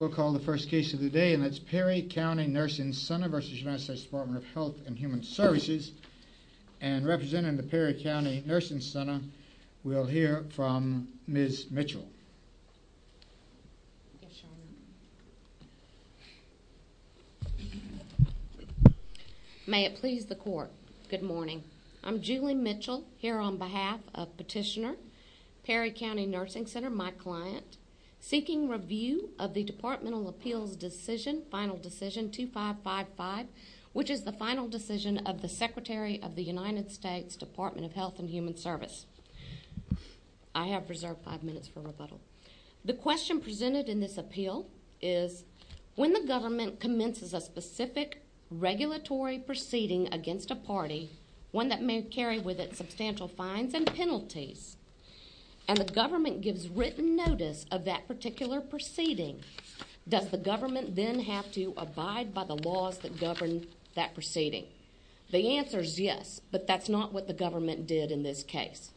We'll call the first case of the day and that's Perry County Nursing Center v. United States Department of Health and Human Services and representing the Perry County Nursing Center we'll hear from Ms. Mitchell. May it please the court, good morning. I'm Julie Mitchell here on behalf of petitioner Perry County Nursing Center, my client, seeking review of the departmental appeals decision final decision 2555 which is the final decision of the Secretary of the United States Department of Health and Human Service. I have reserved five minutes for rebuttal. The question presented in this appeal is when the government commences a specific regulatory proceeding against a party, one that may carry with it substantial fines and penalties, and the government then have to abide by the laws that govern that proceeding? The answer is yes, but that's not what the government did in this case.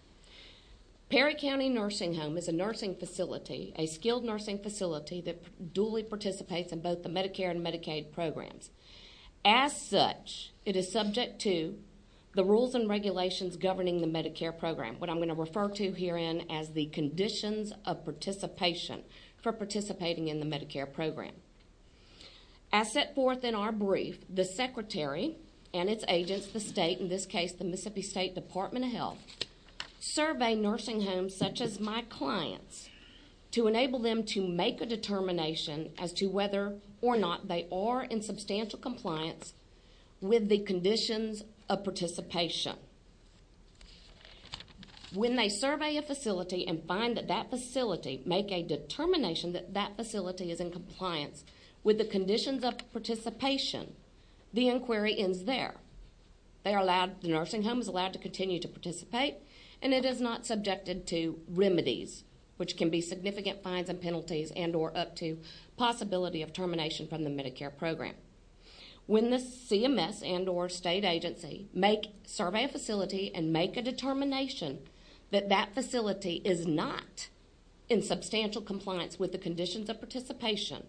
Perry County Nursing Home is a nursing facility, a skilled nursing facility, that duly participates in both the Medicare and Medicaid programs. As such, it is subject to the rules and regulations governing the Medicare program, what I'm going to refer to herein as the conditions of participation for participating in the Medicare program. As set forth in our brief, the Secretary and its agents, the state, in this case the Mississippi State Department of Health, survey nursing homes such as my client's to enable them to make a determination as to whether or not they are in substantial compliance with the conditions of participation. When they survey a facility and find that that facility make a determination that that facility is in compliance with the conditions of participation, the inquiry ends there. They are allowed, the nursing home is allowed to continue to participate, and it is not subjected to remedies, which can be significant fines and penalties and or up to possibility of termination from the Medicare program. When the CMS and or state agency make, survey a facility and make a determination that that facility is not in substantial compliance with the conditions of participation,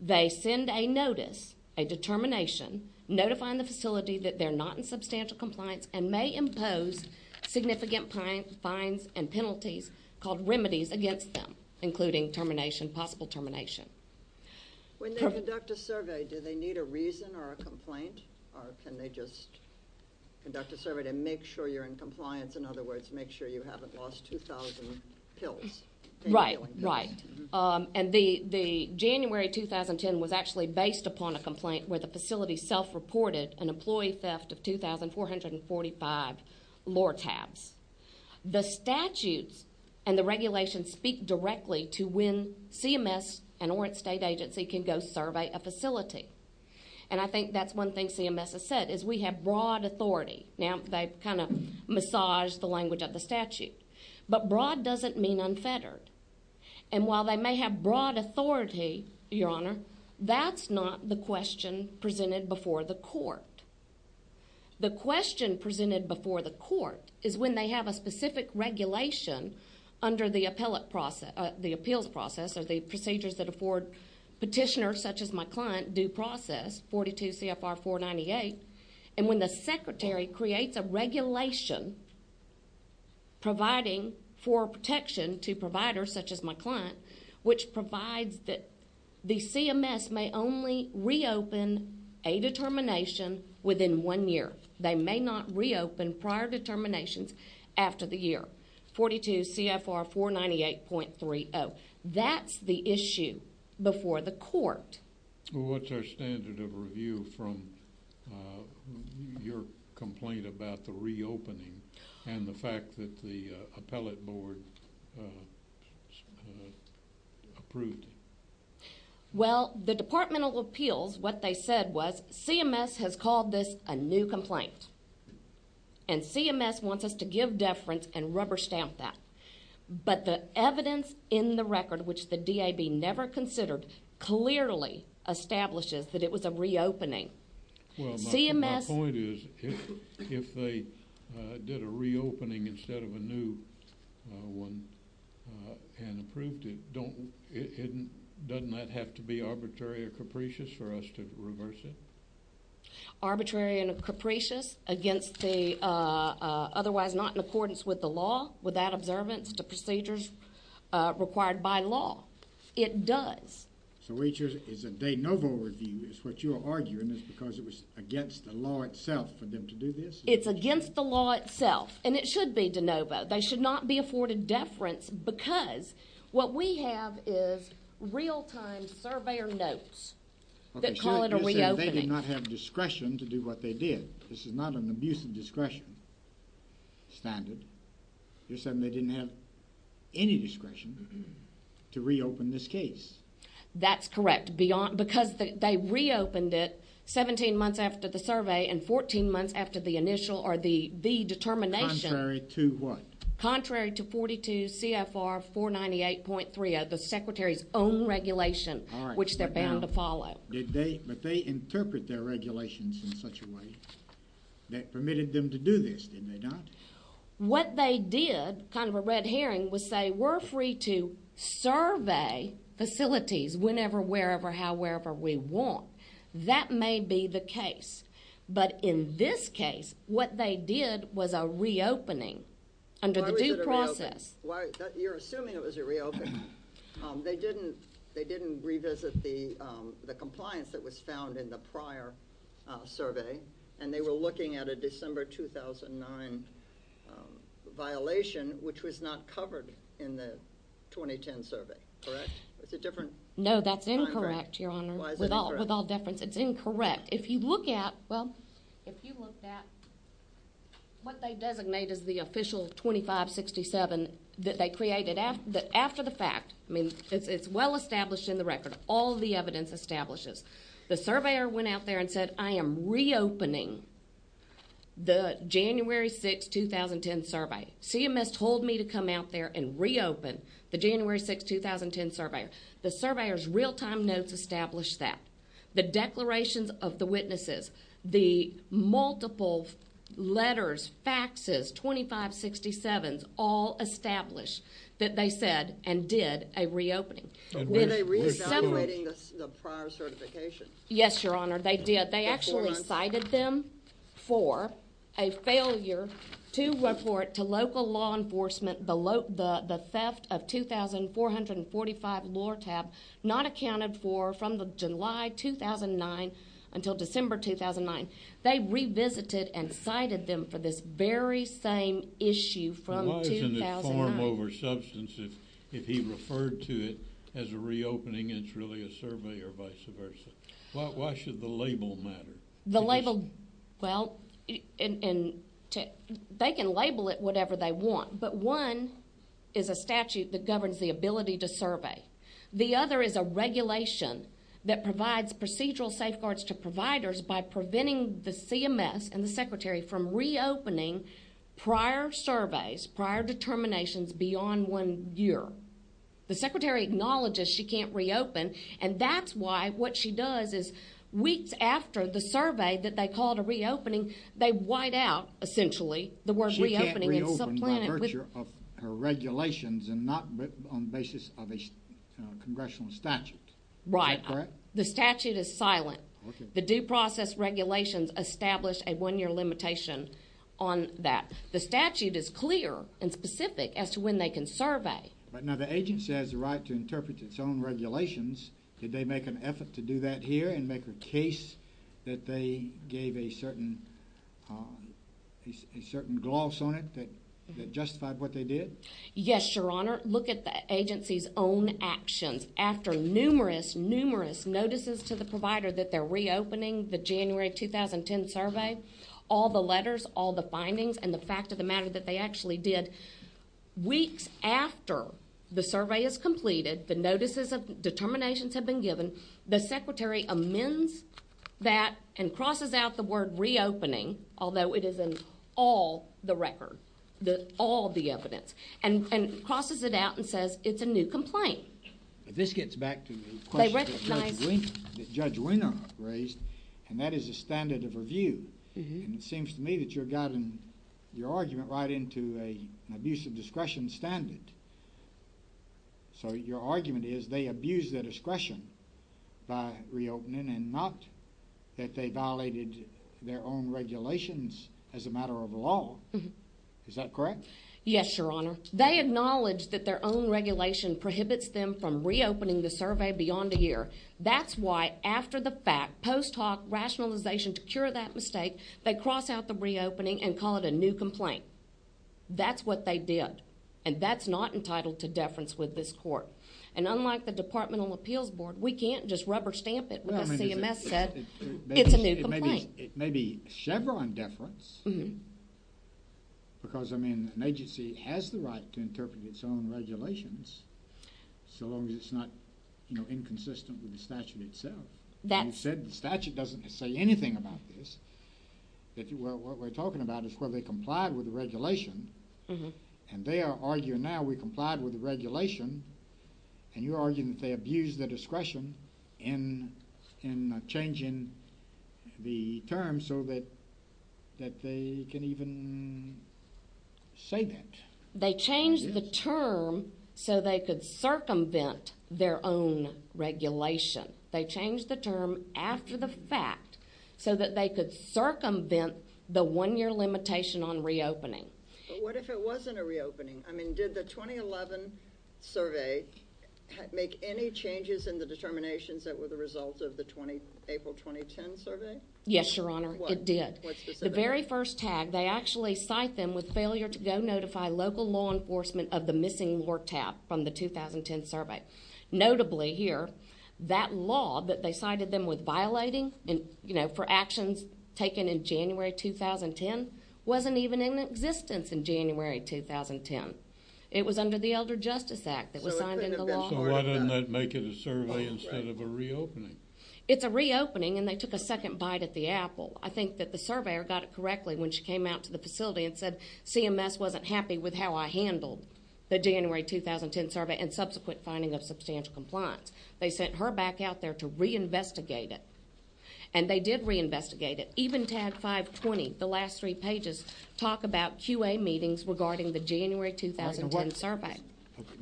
they send a notice, a determination, notifying the facility that they're not in substantial compliance and may impose significant fines and penalties called remedies against them, including termination, possible termination. When they conduct a survey, do they need a reason or a complaint, or can they just conduct a survey to make sure you're in compliance? In other words, make sure you haven't lost 2,000 pills. Right, right. And the January 2010 was actually based upon a complaint where the facility self-reported an employee theft of 2,445 Lortabs. The statutes and the regulations speak directly to when CMS and or its state agency can go survey a facility. And I think that's one thing CMS has said, is we have broad authority. Now, they've kind of massaged the language of the statute, but broad doesn't mean unfettered. And while they may have broad authority, Your Honor, that's not the question presented before the court. The question presented before the court is when they have a specific regulation under the appellate process, the appeals process, or the procedures that afford petitioners such as my 498, and when the secretary creates a regulation providing for protection to providers such as my client, which provides that the CMS may only reopen a determination within one year. They may not reopen prior determinations after the year. 42 CFR 498.30. That's the issue before the court. What's our standard of review from your complaint about the reopening and the fact that the appellate board approved it? Well, the departmental appeals, what they said was CMS has called this a new complaint. And CMS wants us to give deference and rubber stamp that. But the establishes that it was a reopening. Well, my point is, if they did a reopening instead of a new one and approved it, doesn't that have to be arbitrary or capricious for us to reverse it? Arbitrary and capricious against the otherwise not in accordance with the law without observance to procedures required by law. It does. So HR is a de novo review is what you're arguing is because it was against the law itself for them to do this? It's against the law itself and it should be de novo. They should not be afforded deference because what we have is real time surveyor notes. They did not have discretion to do what they did. This is not an abuse of discretion standard. You're saying they didn't have any discretion to reopen this case. That's correct. Beyond because they reopened it 17 months after the survey and 14 months after the initial or the the determination. Contrary to what? Contrary to 42 CFR 498.3, the Secretary's own regulation which they're bound to follow. Did they, but they interpret their regulations in such a way that permitted them to do this, didn't they not? What they did, kind of a red herring, was say we're free to survey facilities whenever, wherever, however we want. That may be the case. But in this case, what they did was a reopening under the due process. You're assuming it was a reopen. They didn't, they didn't revisit the compliance that was found in the prior survey and they were looking at a December 2009 violation which was not covered in the 2010 survey, correct? Is it different? No, that's incorrect, Your Honor. With all, with all difference, it's incorrect. If you look at, well, if you look at what they designate as the official 2567 that they created after the fact, I mean, it's well established in the record. All the evidence establishes. The surveyor went out there and said, I am reopening the January 6, 2010 survey. CMS told me to come out there and reopen the January 6, 2010 surveyor. The surveyor's real time notes established that. The declarations of the witnesses, the multiple letters, faxes, 2567s, all certification. Yes, Your Honor. They did. They actually cited them for a failure to work for it to local law enforcement below the theft of 2445 Lord tab not accounted for from the July 2009 until December 2009. They revisited and cited them for this very same issue from 2000 form over substance. If, if he referred to it as a reopening, it's really a survey or vice versa. Why should the label matter? The label? Well, and they can label it whatever they want. But one is a statute that governs the ability to survey. The other is a regulation that provides procedural safeguards to providers by preventing the CMS and the secretary from reopening prior surveys, prior determinations beyond one year. The secretary acknowledges she can't reopen. And that's why what she does is weeks after the survey that they called a reopening, they white out essentially the word reopening. It's a plan of her regulations and not on the basis of a congressional statute. Right? The statute is silent. The due process regulations established a one year limitation on that. The statute is clear and specific as to when they can regulations. Did they make an effort to do that here and make a case that they gave a certain a certain gloss on it that justified what they did? Yes, your honor. Look at the agency's own actions after numerous, numerous notices to the provider that they're reopening the January 2010 survey, all the letters, all the findings and the fact of the matter that they actually did. Weeks after the survey is completed, the notices of determinations have been given. The secretary amends that and crosses out the word reopening, although it is in all the record that all the evidence and and crosses it out and says it's a new complaint. But this gets back to the question that Judge Wiener raised and that is a standard of review. And it abusive discretion standard. So your argument is they abuse their discretion by reopening and not that they violated their own regulations as a matter of law. Is that correct? Yes, your honor. They acknowledge that their own regulation prohibits them from reopening the survey beyond a year. That's why after the fact post hoc rationalization to cure that mistake, they cross out the reopening and call it a new complaint. That's what they did. And that's not entitled to deference with this court. And unlike the Department of Appeals Board, we can't just rubber stamp it with a CMS said it's a new complaint. It may be Chevron deference because I mean an agency has the right to interpret its own regulations so long as it's not inconsistent with the statute itself. You said the statute doesn't say anything about this. What we're talking about is where they complied with the regulation and they are arguing now we complied with the regulation and you're arguing that they abuse the discretion in in changing the term so that that they can even say that. They change the term so they could circumvent their own regulation. They change the term after the fact so that they could circumvent the one year limitation on reopening. But what if it wasn't a reopening? I mean did the 2011 survey make any changes in the determinations that were the result of the 20 April 2010 survey? Yes, your honor. It did. The very first tag. They actually cite them with failure to go notify local law enforcement of the law that they cited them with violating and you know for actions taken in January 2010 wasn't even in existence in January 2010. It was under the Elder Justice Act that was signed in the law. So why didn't that make it a survey instead of a reopening? It's a reopening and they took a second bite at the apple. I think that the surveyor got it correctly when she came out to the facility and said CMS wasn't happy with how I handled the January 2010 survey and subsequent finding of substantial compliance. They sent her back out there to reinvestigate it and they did reinvestigate it. Even tag 520, the last three pages, talk about QA meetings regarding the January 2010 survey.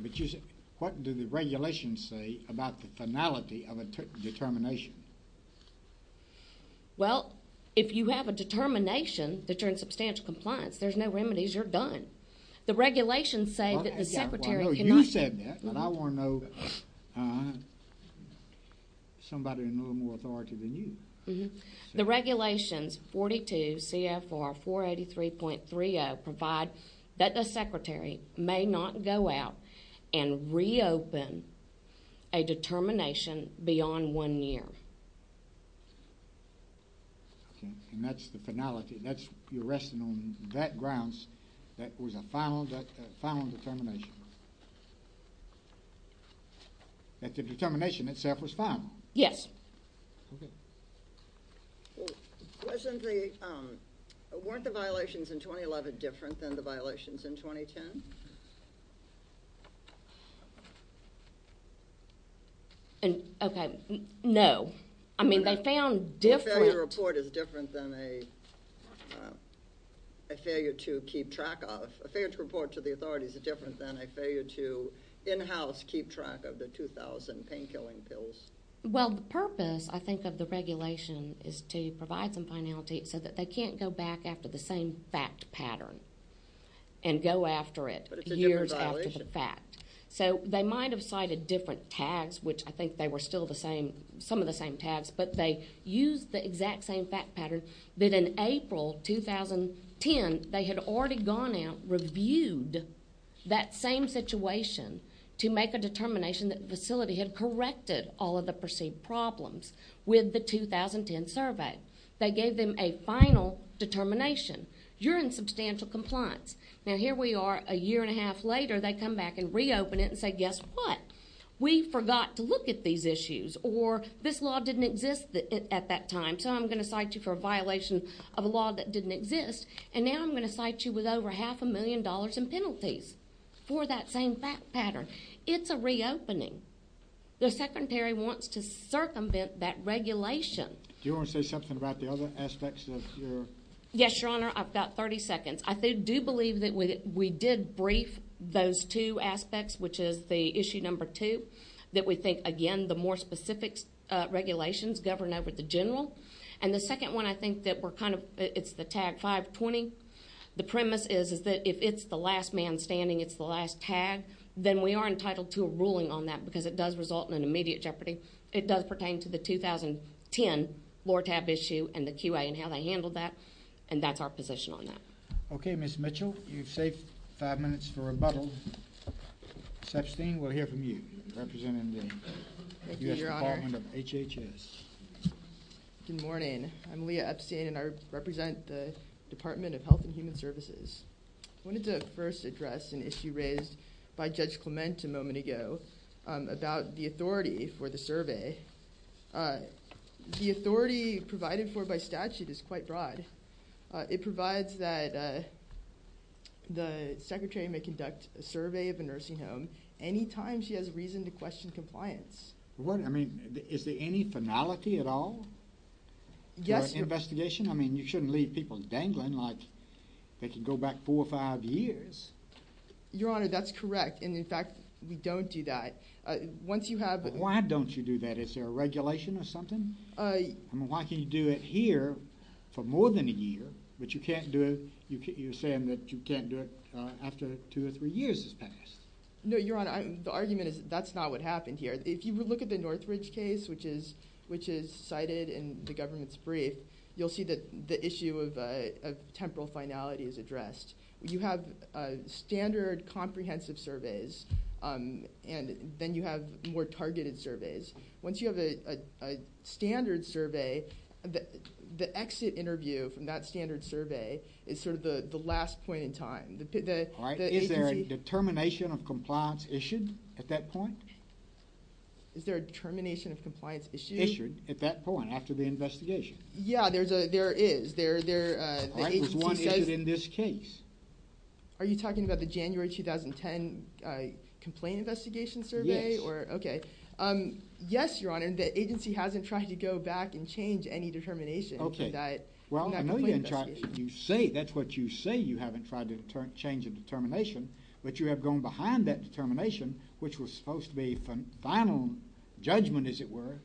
But you said, what do the regulations say about the finality of a determination? Well, if you have a determination that turns substantial compliance, there's no remedies, you're done. The regulations say that the secretary. You said that, but I want to know somebody in a little more authority than you. The regulations 42 CFR 483.30 provide that the secretary may not go out and reopen a determination beyond one year. And that's the finality. That's your resting on that grounds. That was a final, final determination. And the determination itself was final? Yes. Weren't the violations in 2011 different than the violations in 2010? Okay, no. I mean, they found different. A failure report is different than a failure to keep track of. A failure to report to the in-house keep track of the 2000 painkilling pills. Well, the purpose, I think, of the regulation is to provide some finality so that they can't go back after the same fact pattern. And go after it years after the fact. But it's a different violation. So, they might have cited different tags, which I think they were still the same, some of the same tags, but they used the exact same fact pattern. That in April 2010, they had already gone out, reviewed that same situation to make a determination that the facility had corrected all of the perceived problems with the 2010 survey. They gave them a final determination. You're in substantial compliance. Now, here we are a year and a half later. They come back and reopen it and say, guess what? We forgot to look at these issues. Or this law didn't exist at that time. So, I'm going to cite you for a violation of a law that didn't exist. And now I'm going to cite you with over half a million dollars in penalties for that same fact pattern. It's a reopening. The Secretary wants to circumvent that regulation. Do you want to say something about the other aspects of your? Yes, Your Honor. I've got 30 seconds. I do believe that we did brief those two aspects, which is the issue number two, that we think, again, the more specific regulations govern over the general. And the second one, I think that we're kind of – it's the tag 520. The premise is that if it's the last man standing, it's the last tag, then we are entitled to a ruling on that because it does result in an immediate jeopardy. It does pertain to the 2010 lower tab issue and the QA and how they handled that, and that's our position on that. Okay, Ms. Mitchell, you've saved five minutes for rebuttal. Sepstein, we'll hear from you, representing the U.S. Department of HHS. Good morning. I'm Leah Epstein, and I represent the Department of Health and Human Services. I wanted to first address an issue raised by Judge Clement a moment ago about the authority for the survey. The authority provided for by statute is quite broad. It provides that the secretary may conduct a survey of a nursing home any time she has reason to question compliance. I mean, is there any finality at all? Yes. Investigation? I mean, you shouldn't leave people dangling like they can go back four or five years. Your Honor, that's correct, and, in fact, we don't do that. Once you have – But why don't you do that? Is there a regulation or something? I mean, why can you do it here for more than a year, but you can't do it – you're saying that you can't do it after two or three years has passed? No, Your Honor, the argument is that's not what happened here. If you look at the Northridge case, which is cited in the government's brief, you'll see that the issue of temporal finality is addressed. You have standard comprehensive surveys, and then you have more targeted surveys. Once you have a standard survey, the exit interview from that standard survey is sort of the last point in time. All right, is there a determination of compliance issued at that point? Is there a determination of compliance issued? Issued at that point, after the investigation. Yeah, there is. All right, there's one issue in this case. Are you talking about the January 2010 complaint investigation survey? Yes. Okay. Yes, Your Honor, the agency hasn't tried to go back and change any determination for that complaint investigation. Well, I know you say – that's what you say you haven't tried to change a determination, but you have gone behind that determination, which was supposed to be a final judgment, as it were,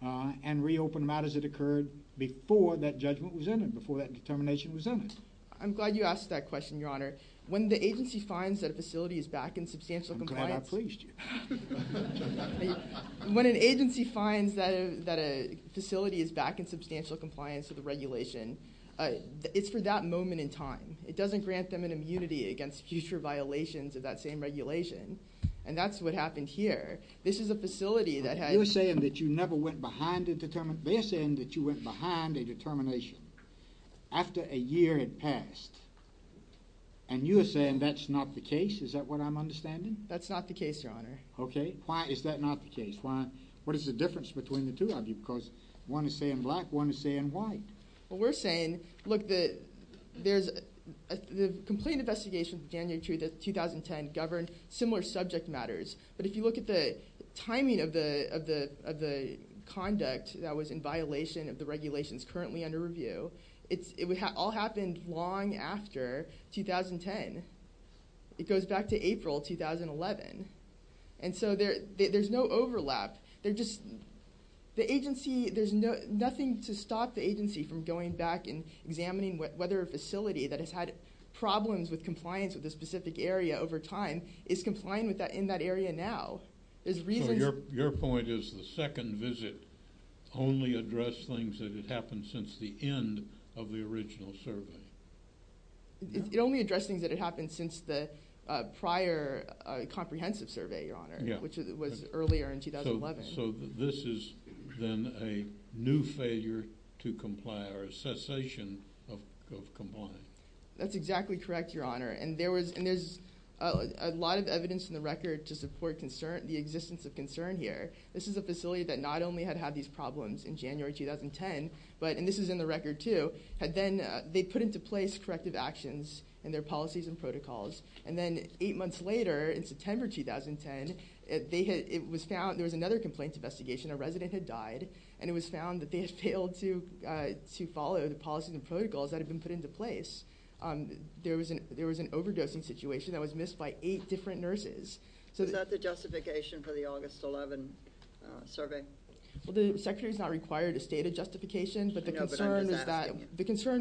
and reopened matters that occurred before that judgment was in it, before that determination was in it. I'm glad you asked that question, Your Honor. When the agency finds that a facility is back in substantial compliance – I'm glad I pleased you. When an agency finds that a facility is back in substantial compliance with the regulation, it's for that moment in time. It doesn't grant them an immunity against future violations of that same regulation, and that's what happened here. This is a facility that had – You're saying that you never went behind a – they're saying that you went behind a determination after a year had passed, and you're saying that's not the case? Is that what I'm understanding? That's not the case, Your Honor. Okay. Why is that not the case? What is the difference between the two of you? Because one is saying black, one is saying white. Well, we're saying, look, there's – the complaint investigation of January 2, 2010 governed similar subject matters, but if you look at the timing of the conduct that was in violation of the regulations currently under review, it all happened long after 2010. It goes back to April 2011. And so there's no overlap. They're just – the agency – there's nothing to stop the agency from going back and examining whether a facility that has had problems with compliance with a specific area over time is complying in that area now. There's reasons – So your point is the second visit only addressed things that had happened since the end of the original survey? It only addressed things that had happened since the prior comprehensive survey, Your Honor, which was earlier in 2011. So this is then a new failure to comply or a cessation of compliance? That's exactly correct, Your Honor. And there's a lot of evidence in the record to support the existence of concern here. This is a facility that not only had had these problems in January 2010, but – and this is in the record too – had then – they put into place corrective actions in their policies and protocols. And then eight months later, in September 2010, it was found – there was another complaint investigation. A resident had died, and it was found that they had failed to follow the policies and protocols that had been put into place. There was an overdosing situation that was missed by eight different nurses. Is that the justification for the August 11 survey? Well, the Secretary's not required to state a justification, but the concern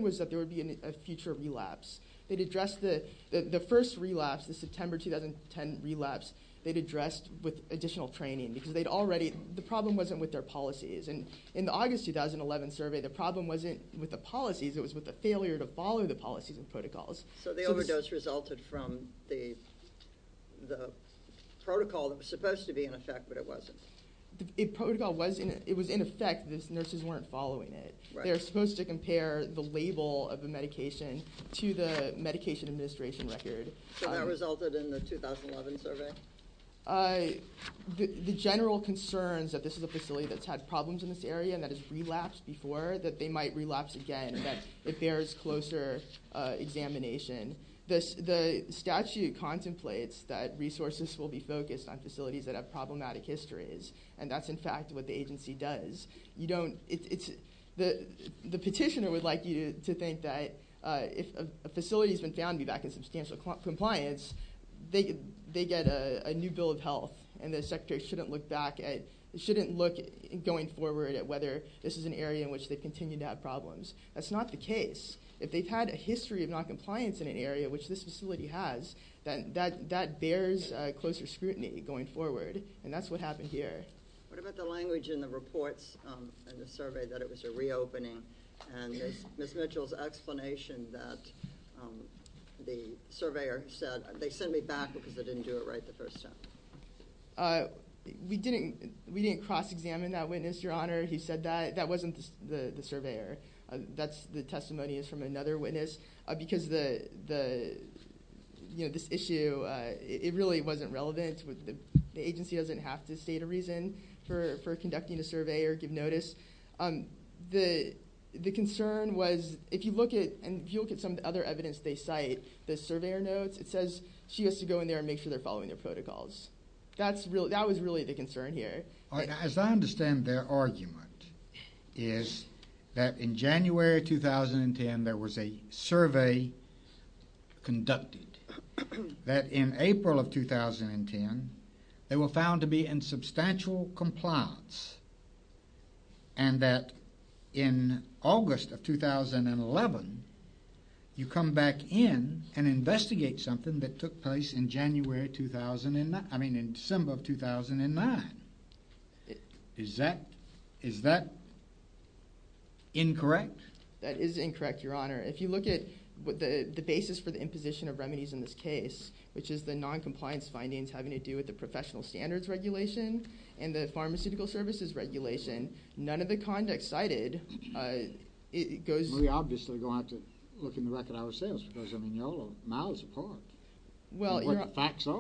was that there would be a future relapse. They'd addressed the first relapse, the September 2010 relapse, they'd addressed with additional training because they'd already – the problem wasn't with their policies. And in the August 2011 survey, the problem wasn't with the policies. It was with the failure to follow the policies and protocols. So the overdose resulted from the protocol that was supposed to be in effect, but it wasn't? The protocol was – it was in effect. The nurses weren't following it. They were supposed to compare the label of the medication to the medication administration record. So that resulted in the 2011 survey? The general concerns that this is a facility that's had problems in this area and that has relapsed before, that they might relapse again, that it bears closer examination. The statute contemplates that resources will be focused on facilities that have problematic histories, and that's, in fact, what the agency does. You don't – it's – the petitioner would like you to think that if a facility's been found to be back in substantial compliance, they get a new bill of health, and the Secretary shouldn't look back at – shouldn't look, going forward, at whether this is an area in which they continue to have problems. That's not the case. If they've had a history of noncompliance in an area, which this facility has, then that bears closer scrutiny going forward, and that's what happened here. What about the language in the reports and the survey that it was a reopening, and Ms. Mitchell's explanation that the surveyor said, they sent me back because they didn't do it right the first time? We didn't cross-examine that witness, Your Honor. He said that. That wasn't the surveyor. That's – the testimony is from another witness because the – you know, this issue, it really wasn't relevant. The agency doesn't have to state a reason for conducting a survey or give notice. The concern was, if you look at – and if you look at some of the other evidence they cite, the surveyor notes, it says she has to go in there and make sure they're following their protocols. That's really – that was really the concern here. As I understand their argument is that in January 2010 there was a survey conducted that in April of 2010 they were found to be in substantial compliance and that in August of 2011 you come back in and investigate something that took place in January 2009 – I mean in December of 2009. Is that – is that incorrect? That is incorrect, Your Honor. If you look at the basis for the imposition of remedies in this case, which is the noncompliance findings having to do with the professional standards regulation and the pharmaceutical services regulation, none of the conduct cited goes – We obviously go out to look in the record ourselves because, I mean, you know, mouths apart what the facts are.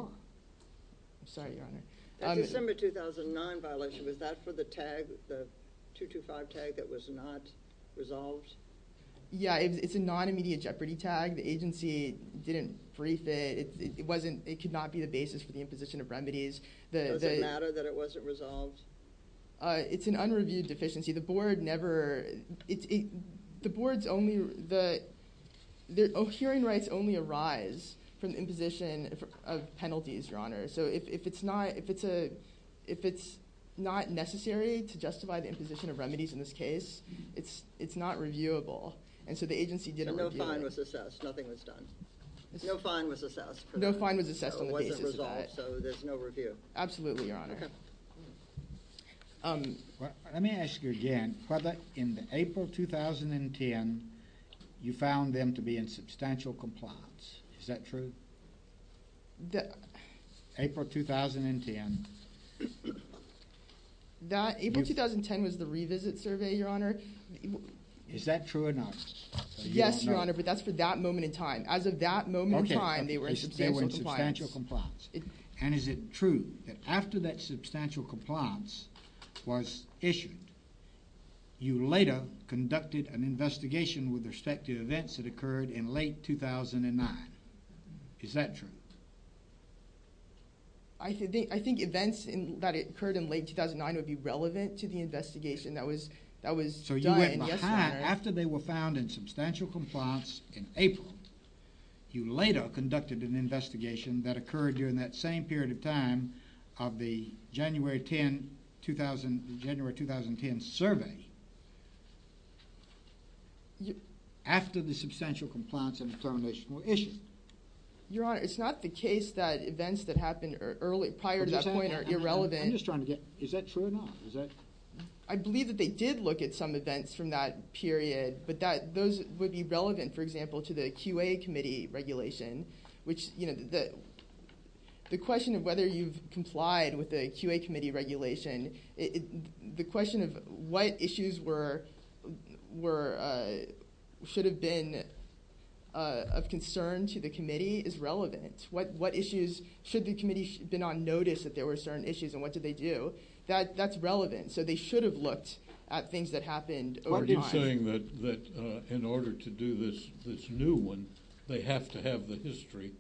I'm sorry, Your Honor. The December 2009 violation, was that for the tag, the 225 tag that was not resolved? Yeah, it's a non-immediate jeopardy tag. The agency didn't brief it. It wasn't – it could not be the basis for the imposition of remedies. Does it matter that it wasn't resolved? It's an unreviewed deficiency. The board never – the board's only – hearing rights only arise from imposition of penalties, Your Honor. So if it's not – if it's not necessary to justify the imposition of remedies in this case, it's not reviewable. And so the agency didn't review it. So no fine was assessed. Nothing was done. No fine was assessed on the basis of that. So it wasn't resolved. So there's no review. Absolutely, Your Honor. Well, let me ask you again. Whether in the April 2010, you found them to be in substantial compliance. Is that true? April 2010. That – April 2010 was the revisit survey, Your Honor. Is that true or not? Yes, Your Honor. But that's for that moment in time. As of that moment in time, they were in substantial compliance. Okay. They were in substantial compliance. And is it true that after that substantial compliance was issued, you later conducted an investigation with respect to events that occurred in late 2009? Is that true? I think events that occurred in late 2009 would be relevant to the investigation that was – that was done. So you went behind – after they were found in substantial compliance in April, you later conducted an investigation that occurred during that same period of time of the January 10, 2000 – January 2010 survey after the substantial compliance and determination were issued. Your Honor, it's not the case that events that happened early – prior to that point are irrelevant. I'm just trying to get – is that true or not? Is that – I believe that they did look at some events from that period. But that – those would be relevant, for example, to the QA committee regulation, which, you know, the question of whether you've complied with the QA committee regulation, the question of what issues were – should have been of concern to the committee is relevant. What issues – should the committee have been on notice that there were certain issues, and what did they do? That's relevant. So they should have looked at things that happened over time. You're saying that in order to do this new one, they have to have the history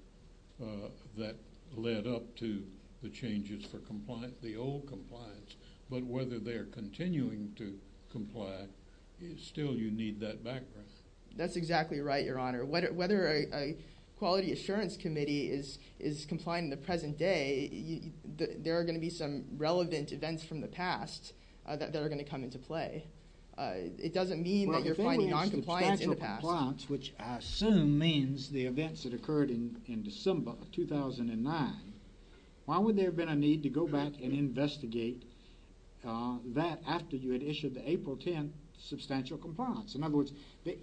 that led up to the changes for compliance – the old compliance. But whether they're continuing to comply, still you need that background. That's exactly right, Your Honor. Whether a Quality Assurance Committee is complying in the present day, there are going to be some relevant events from the past that are going to come into play. It doesn't mean that you're finding noncompliance in the past. Well, if there was substantial compliance, which I assume means the events that occurred in December of 2009, why would there have been a need to go back and investigate that after you had issued the April 10th substantial compliance? In other words,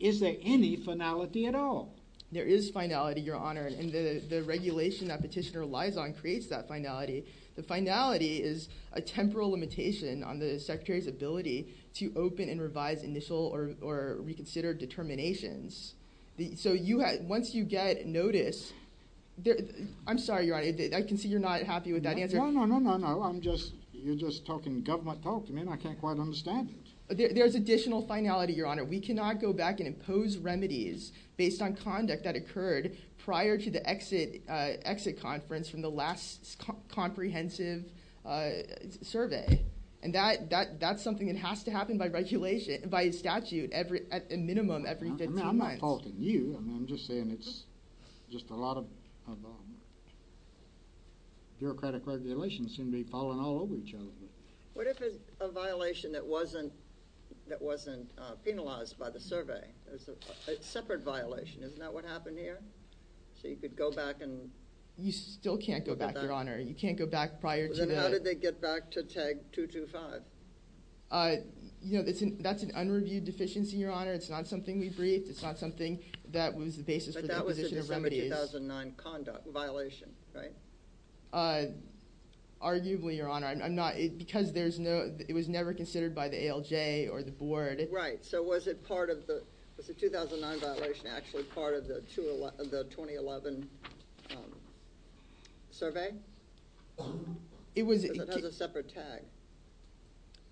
is there any finality at all? There is finality, Your Honor. And the regulation that Petitioner relies on creates that finality. The finality is a temporal limitation on the Secretary's ability to open and revise initial or reconsider determinations. So once you get notice – I'm sorry, Your Honor. I can see you're not happy with that answer. No, no, no, no, no. I'm just – you're just talking government talk. I mean, I can't quite understand it. There's additional finality, Your Honor. We cannot go back and impose remedies based on conduct that occurred prior to the exit conference from the last comprehensive survey. And that's something that has to happen by regulation – by statute at a minimum every 15 months. I'm not faulting you. I'm just saying it's just a lot of bureaucratic regulations seem to be falling all over each other. What if it's a violation that wasn't penalized by the survey? It's a separate violation. Isn't that what happened here? So you could go back and – You still can't go back, Your Honor. You can't go back prior to the – Then how did they get back to Tag 225? You know, that's an unreviewed deficiency, Your Honor. It's not something we briefed. It's not something that was the basis for the imposition of remedies. But that was the December 2009 conduct violation, right? Arguably, Your Honor. I'm not – because there's no – it was never considered by the ALJ or the board. Right. So was it part of the – was the 2009 violation actually part of the 2011 survey? It was – Because it has a separate tag.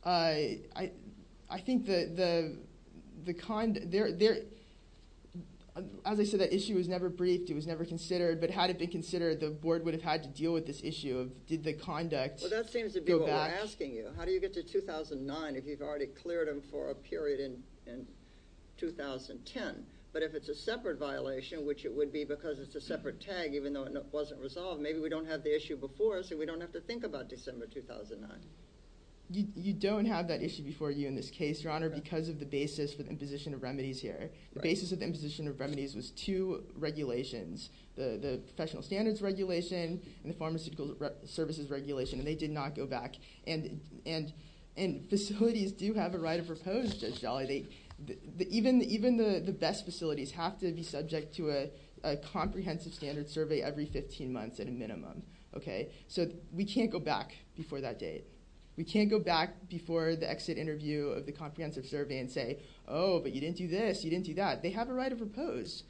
I think the – as I said, that issue was never briefed. It was never considered. But had it been considered, the board would have had to deal with this issue of did the conduct – Well, that seems to be what we're asking you. How do you get to 2009 if you've already cleared them for a period in 2010? But if it's a separate violation, which it would be because it's a separate tag, even though it wasn't resolved, maybe we don't have the issue before us and we don't have to think about December 2009. You don't have that issue before you in this case, Your Honor, because of the basis for the imposition of remedies here. The basis of the imposition of remedies was two regulations, the professional standards regulation and the pharmaceutical services regulation. And they did not go back. And facilities do have a right of repose, Judge Dolly. Even the best facilities have to be subject to a comprehensive standard survey every 15 months at a minimum. So we can't go back before that date. We can't go back before the exit interview of the comprehensive survey and say, oh, but you didn't do this, you didn't do that. They have a right of repose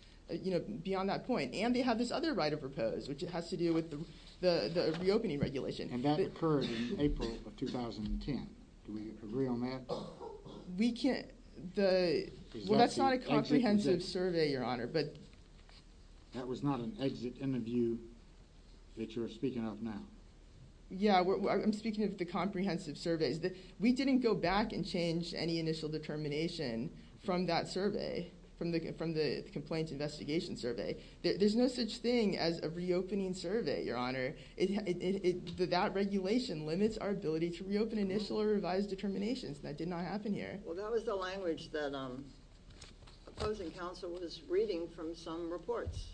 beyond that point. And they have this other right of repose, which has to do with the reopening regulation. And that occurred in April of 2010. Do we agree on that? We can't. Well, that's not a comprehensive survey, Your Honor. That was not an exit interview that you're speaking of now. Yeah, I'm speaking of the comprehensive surveys. We didn't go back and change any initial determination from that survey, from the complaint investigation survey. There's no such thing as a reopening survey, Your Honor. That regulation limits our ability to reopen initial or revised determinations. That did not happen here. Well, that was the language that opposing counsel was reading from some reports.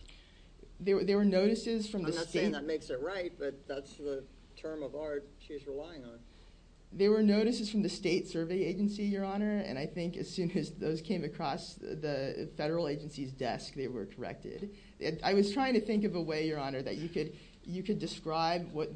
There were notices from the state. I'm not saying that makes it right, but that's the term of art she's relying on. There were notices from the state survey agency, Your Honor. And I think as soon as those came across the federal agency's desk, they were corrected. I was trying to think of a way, Your Honor, that you could describe what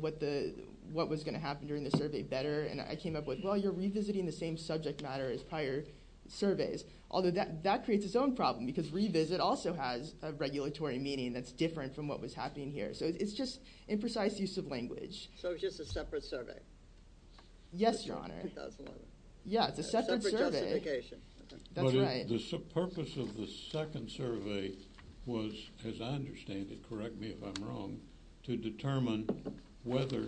was going to happen during the survey better. And I came up with, well, you're revisiting the same subject matter as prior surveys. Although that creates its own problem, because revisit also has a regulatory meaning that's different from what was happening here. So it's just imprecise use of language. So it's just a separate survey? Yes, Your Honor. Yeah, it's a separate survey. Separate justification. That's right. The purpose of the second survey was, as I understand it, correct me if I'm wrong, to determine whether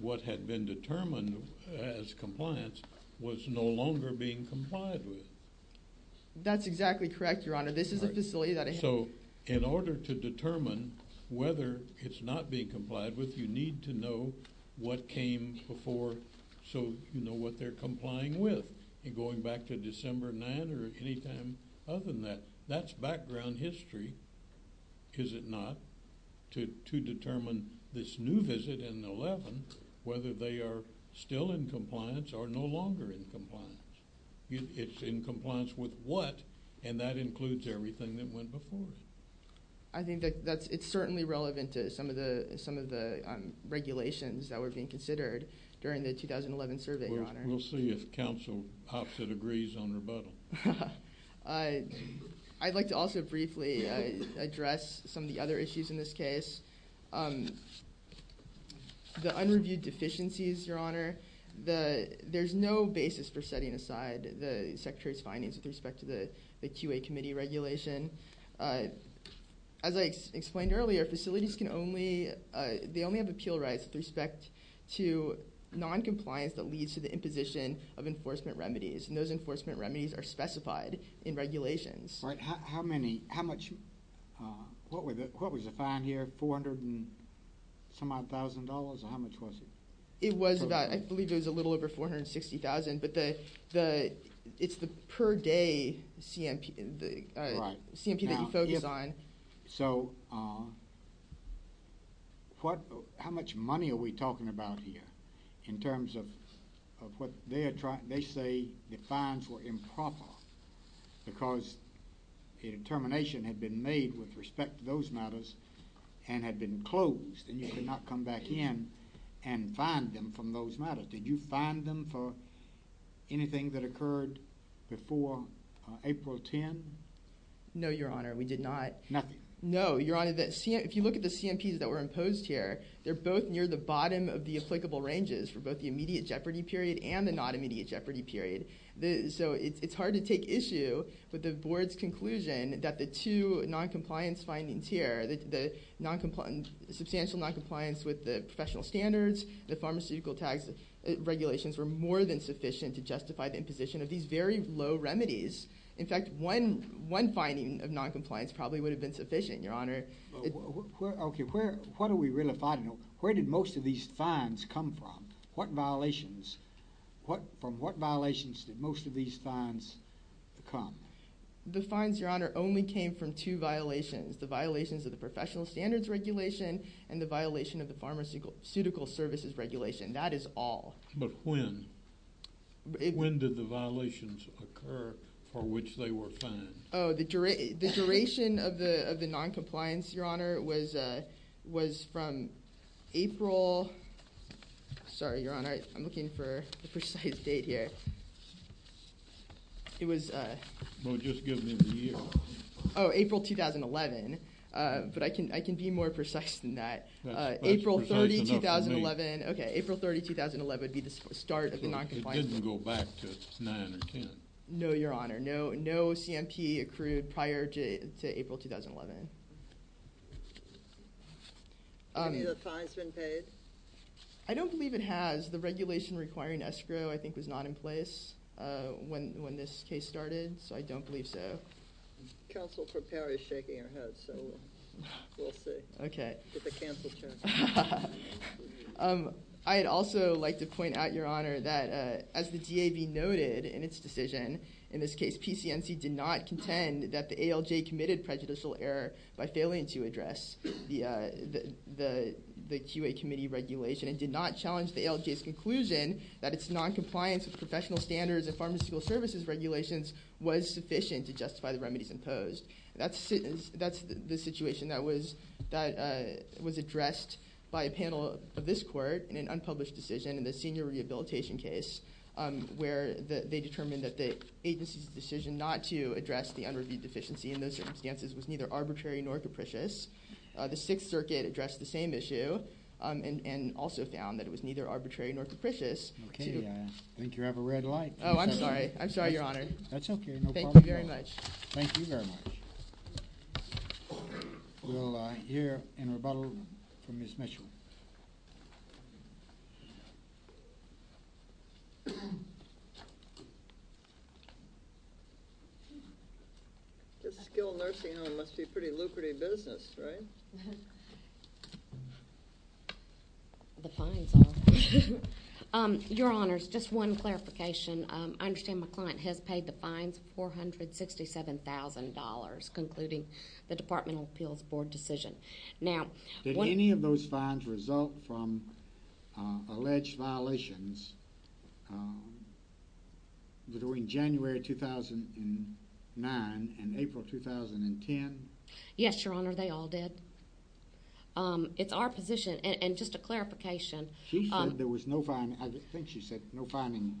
what had been determined as compliance was no longer being complied with. That's exactly correct, Your Honor. This is a facility that I have. So in order to determine whether it's not being complied with, you need to know what came before so you know what they're complying with. And going back to December 9 or any time other than that, that's background history, is it not, to determine this new visit in 11, whether they are still in compliance or no longer in compliance. It's in compliance with what, and that includes everything that went before. I think it's certainly relevant to some of the regulations that were being considered during the 2011 survey, Your Honor. We'll see if counsel pops it agrees on rebuttal. I'd like to also briefly address some of the other issues in this case. The unreviewed deficiencies, Your Honor, there's no basis for setting aside the Secretary's findings with respect to the QA Committee regulation. As I explained earlier, facilities can only, they only have appeal rights with respect to noncompliance that leads to the imposition of enforcement remedies. And those enforcement remedies are specified in regulations. Right. How many, how much, what was the fine here? Four hundred and some odd thousand dollars? Or how much was it? It was about, I believe it was a little over $460,000, but it's the per day CMP that you focus on. So how much money are we talking about here in terms of what they say the fines were improper because a determination had been made with respect to those matters and had been closed and you could not come back in and find them from those matters. Did you find them for anything that occurred before April 10? No, Your Honor, we did not. Nothing? No, Your Honor, if you look at the CMPs that were imposed here, they're both near the bottom of the applicable ranges for both the immediate jeopardy period and the non-immediate jeopardy period. So it's hard to take issue with the Board's conclusion that the two noncompliance findings here, the substantial noncompliance with the professional standards, the pharmaceutical tax regulations were more than sufficient to justify the imposition of these very low remedies. In fact, one finding of noncompliance probably would have been sufficient, Your Honor. Okay, what are we really finding? Where did most of these fines come from? What violations? From what violations did most of these fines come? The fines, Your Honor, only came from two violations, the violations of the professional standards regulation and the violation of the pharmaceutical services regulation. That is all. But when? When did the violations occur for which they were fined? Oh, the duration of the noncompliance, Your Honor, was from April... Sorry, Your Honor, I'm looking for the precise date here. It was... Well, just give me the year. Oh, April 2011. But I can be more precise than that. That's precise enough for me. Okay, April 30, 2011 would be the start of the noncompliance. So it didn't go back to 9 or 10? No, Your Honor. No CMP accrued prior to April 2011. Have any of the fines been paid? I don't believe it has. The regulation requiring escrow, I think, was not in place when this case started, so I don't believe so. Counsel for Perry is shaking her head, so we'll see. Okay. Get the counsel chair. I'd also like to point out, Your Honor, that as the DAB noted in its decision, in this case PCNC did not contend that the ALJ committed prejudicial error by failing to address the QA committee regulation and did not challenge the ALJ's conclusion that its noncompliance with professional standards and pharmaceutical services regulations was sufficient to justify the remedies imposed. That's the situation that was addressed by a panel of this court in an unpublished decision in the senior rehabilitation case where they determined that the agency's decision not to address the unreviewed deficiency in those circumstances was neither arbitrary nor capricious. The Sixth Circuit addressed the same issue and also found that it was neither arbitrary nor capricious to... Okay. I think you have a red light. Oh, I'm sorry. I'm sorry, Your Honor. That's okay. No problem. Thank you very much. Thank you very much. We'll hear in rebuttal from Ms. Mitchell. This skilled nursing home must be pretty lucrative business, right? The fines are. Your Honors, just one clarification. I understand my client has paid the fines $467,000 concluding the Departmental Appeals Board decision. Now... between January 2009 and April 2010. Yes, Your Honor. They all did. It's our position. And just a clarification. She said there was no fine. I think she said no fine.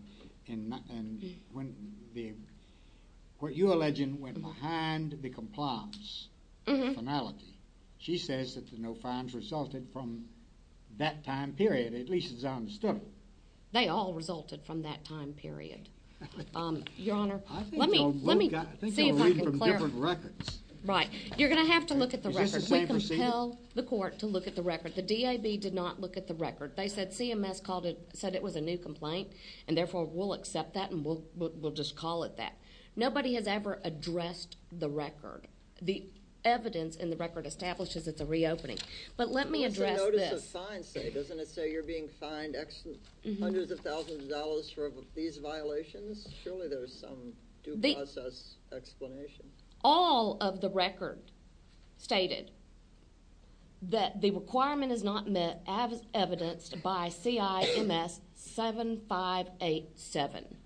What you're alleging went behind the compliance finality. She says that the no fines resulted from that time period, at least as I understand it. They all resulted from that time period, Your Honor. Let me see if I can clarify. I think I'm reading from different records. Right. You're going to have to look at the records. Is this the same procedure? We can tell the court to look at the record. The DAB did not look at the record. They said CMS said it was a new complaint, and therefore we'll accept that and we'll just call it that. Nobody has ever addressed the record. The evidence in the record establishes it's a reopening. But let me address this. What does the fine say? Doesn't it say you're being fined hundreds of thousands of dollars for these violations? Surely there's some due process explanation. All of the record stated that the requirement is not evidenced by CIMS 7587.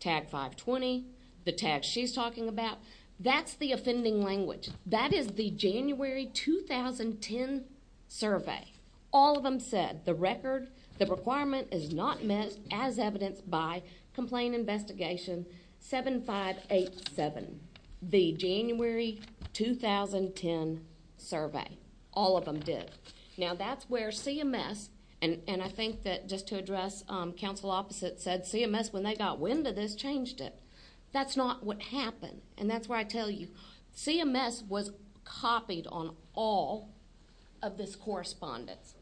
Tag 520, the tag she's talking about, that's the offending language. That is the January 2010 survey. All of them said the record, the requirement, is not met as evidenced by Complaint Investigation 7587, the January 2010 survey. All of them did. Now that's where CMS, and I think that just to address counsel opposite, said CMS, when they got wind of this, changed it. That's not what happened, and that's where I tell you. CMS was copied on all of this correspondence.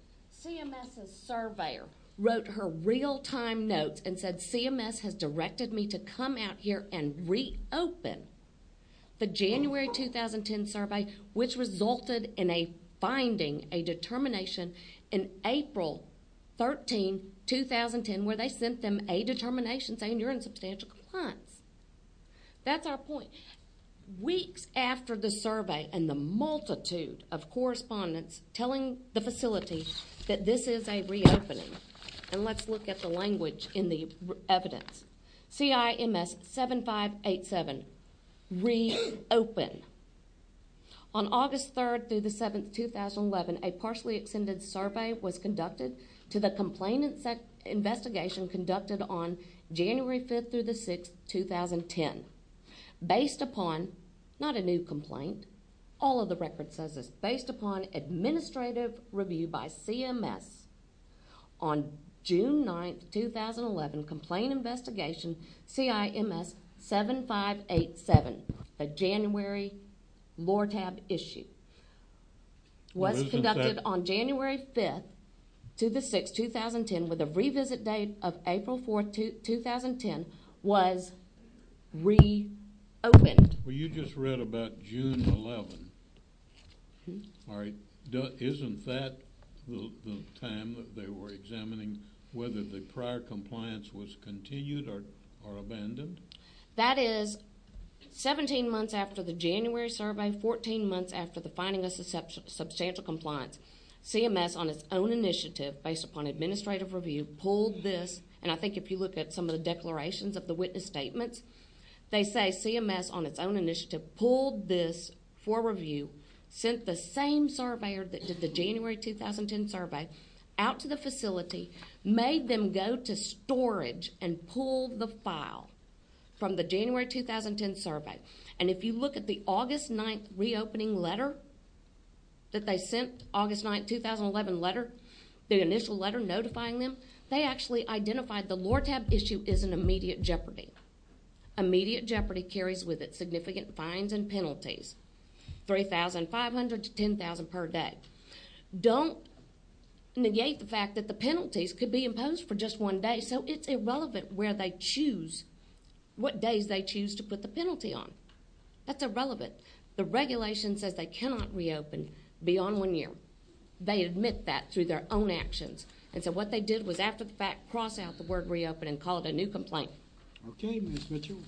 CMS's surveyor wrote her real-time notes and said CMS has directed me to come out here and reopen the January 2010 survey, which resulted in a finding, a determination, in April 13, 2010, where they sent them a determination saying you're in substantial compliance. That's our point. Weeks after the survey and the multitude of correspondence telling the facility that this is a reopening, and let's look at the language in the evidence, CIMS 7587, reopen. On August 3rd through the 7th, 2011, a partially extended survey was conducted to the Complaint Investigation conducted on January 5th through the 6th, 2010. Based upon, not a new complaint, all of the record says it's based upon administrative review by CMS. On June 9th, 2011, Complaint Investigation CIMS 7587, the January LORTAB issue, was conducted on January 5th through the 6th, 2010, with a revisit date of April 4th, 2010, was reopened. Well, you just read about June 11th. Isn't that the time that they were examining whether the prior compliance was continued or abandoned? That is 17 months after the January survey, 14 months after the finding of substantial compliance, CMS, on its own initiative, based upon administrative review, pulled this, and I think if you look at some of the declarations of the witness statements, they say CMS, on its own initiative, pulled this for review, sent the same surveyor that did the January 2010 survey out to the facility, made them go to storage, and pulled the file from the January 2010 survey. And if you look at the August 9th reopening letter that they sent, August 9th, 2011 letter, the initial letter notifying them, they actually identified the LORTAB issue is an immediate jeopardy. Immediate jeopardy carries with it significant fines and penalties, $3,500 to $10,000 per day. Don't negate the fact that the penalties could be imposed for just one day, so it's irrelevant where they choose, what days they choose to put the penalty on. That's irrelevant. The regulation says they cannot reopen beyond one year. They admit that through their own actions. And so what they did was, after the fact, cross out the word reopen and call it a new complaint. Okay, Ms. Mitchell.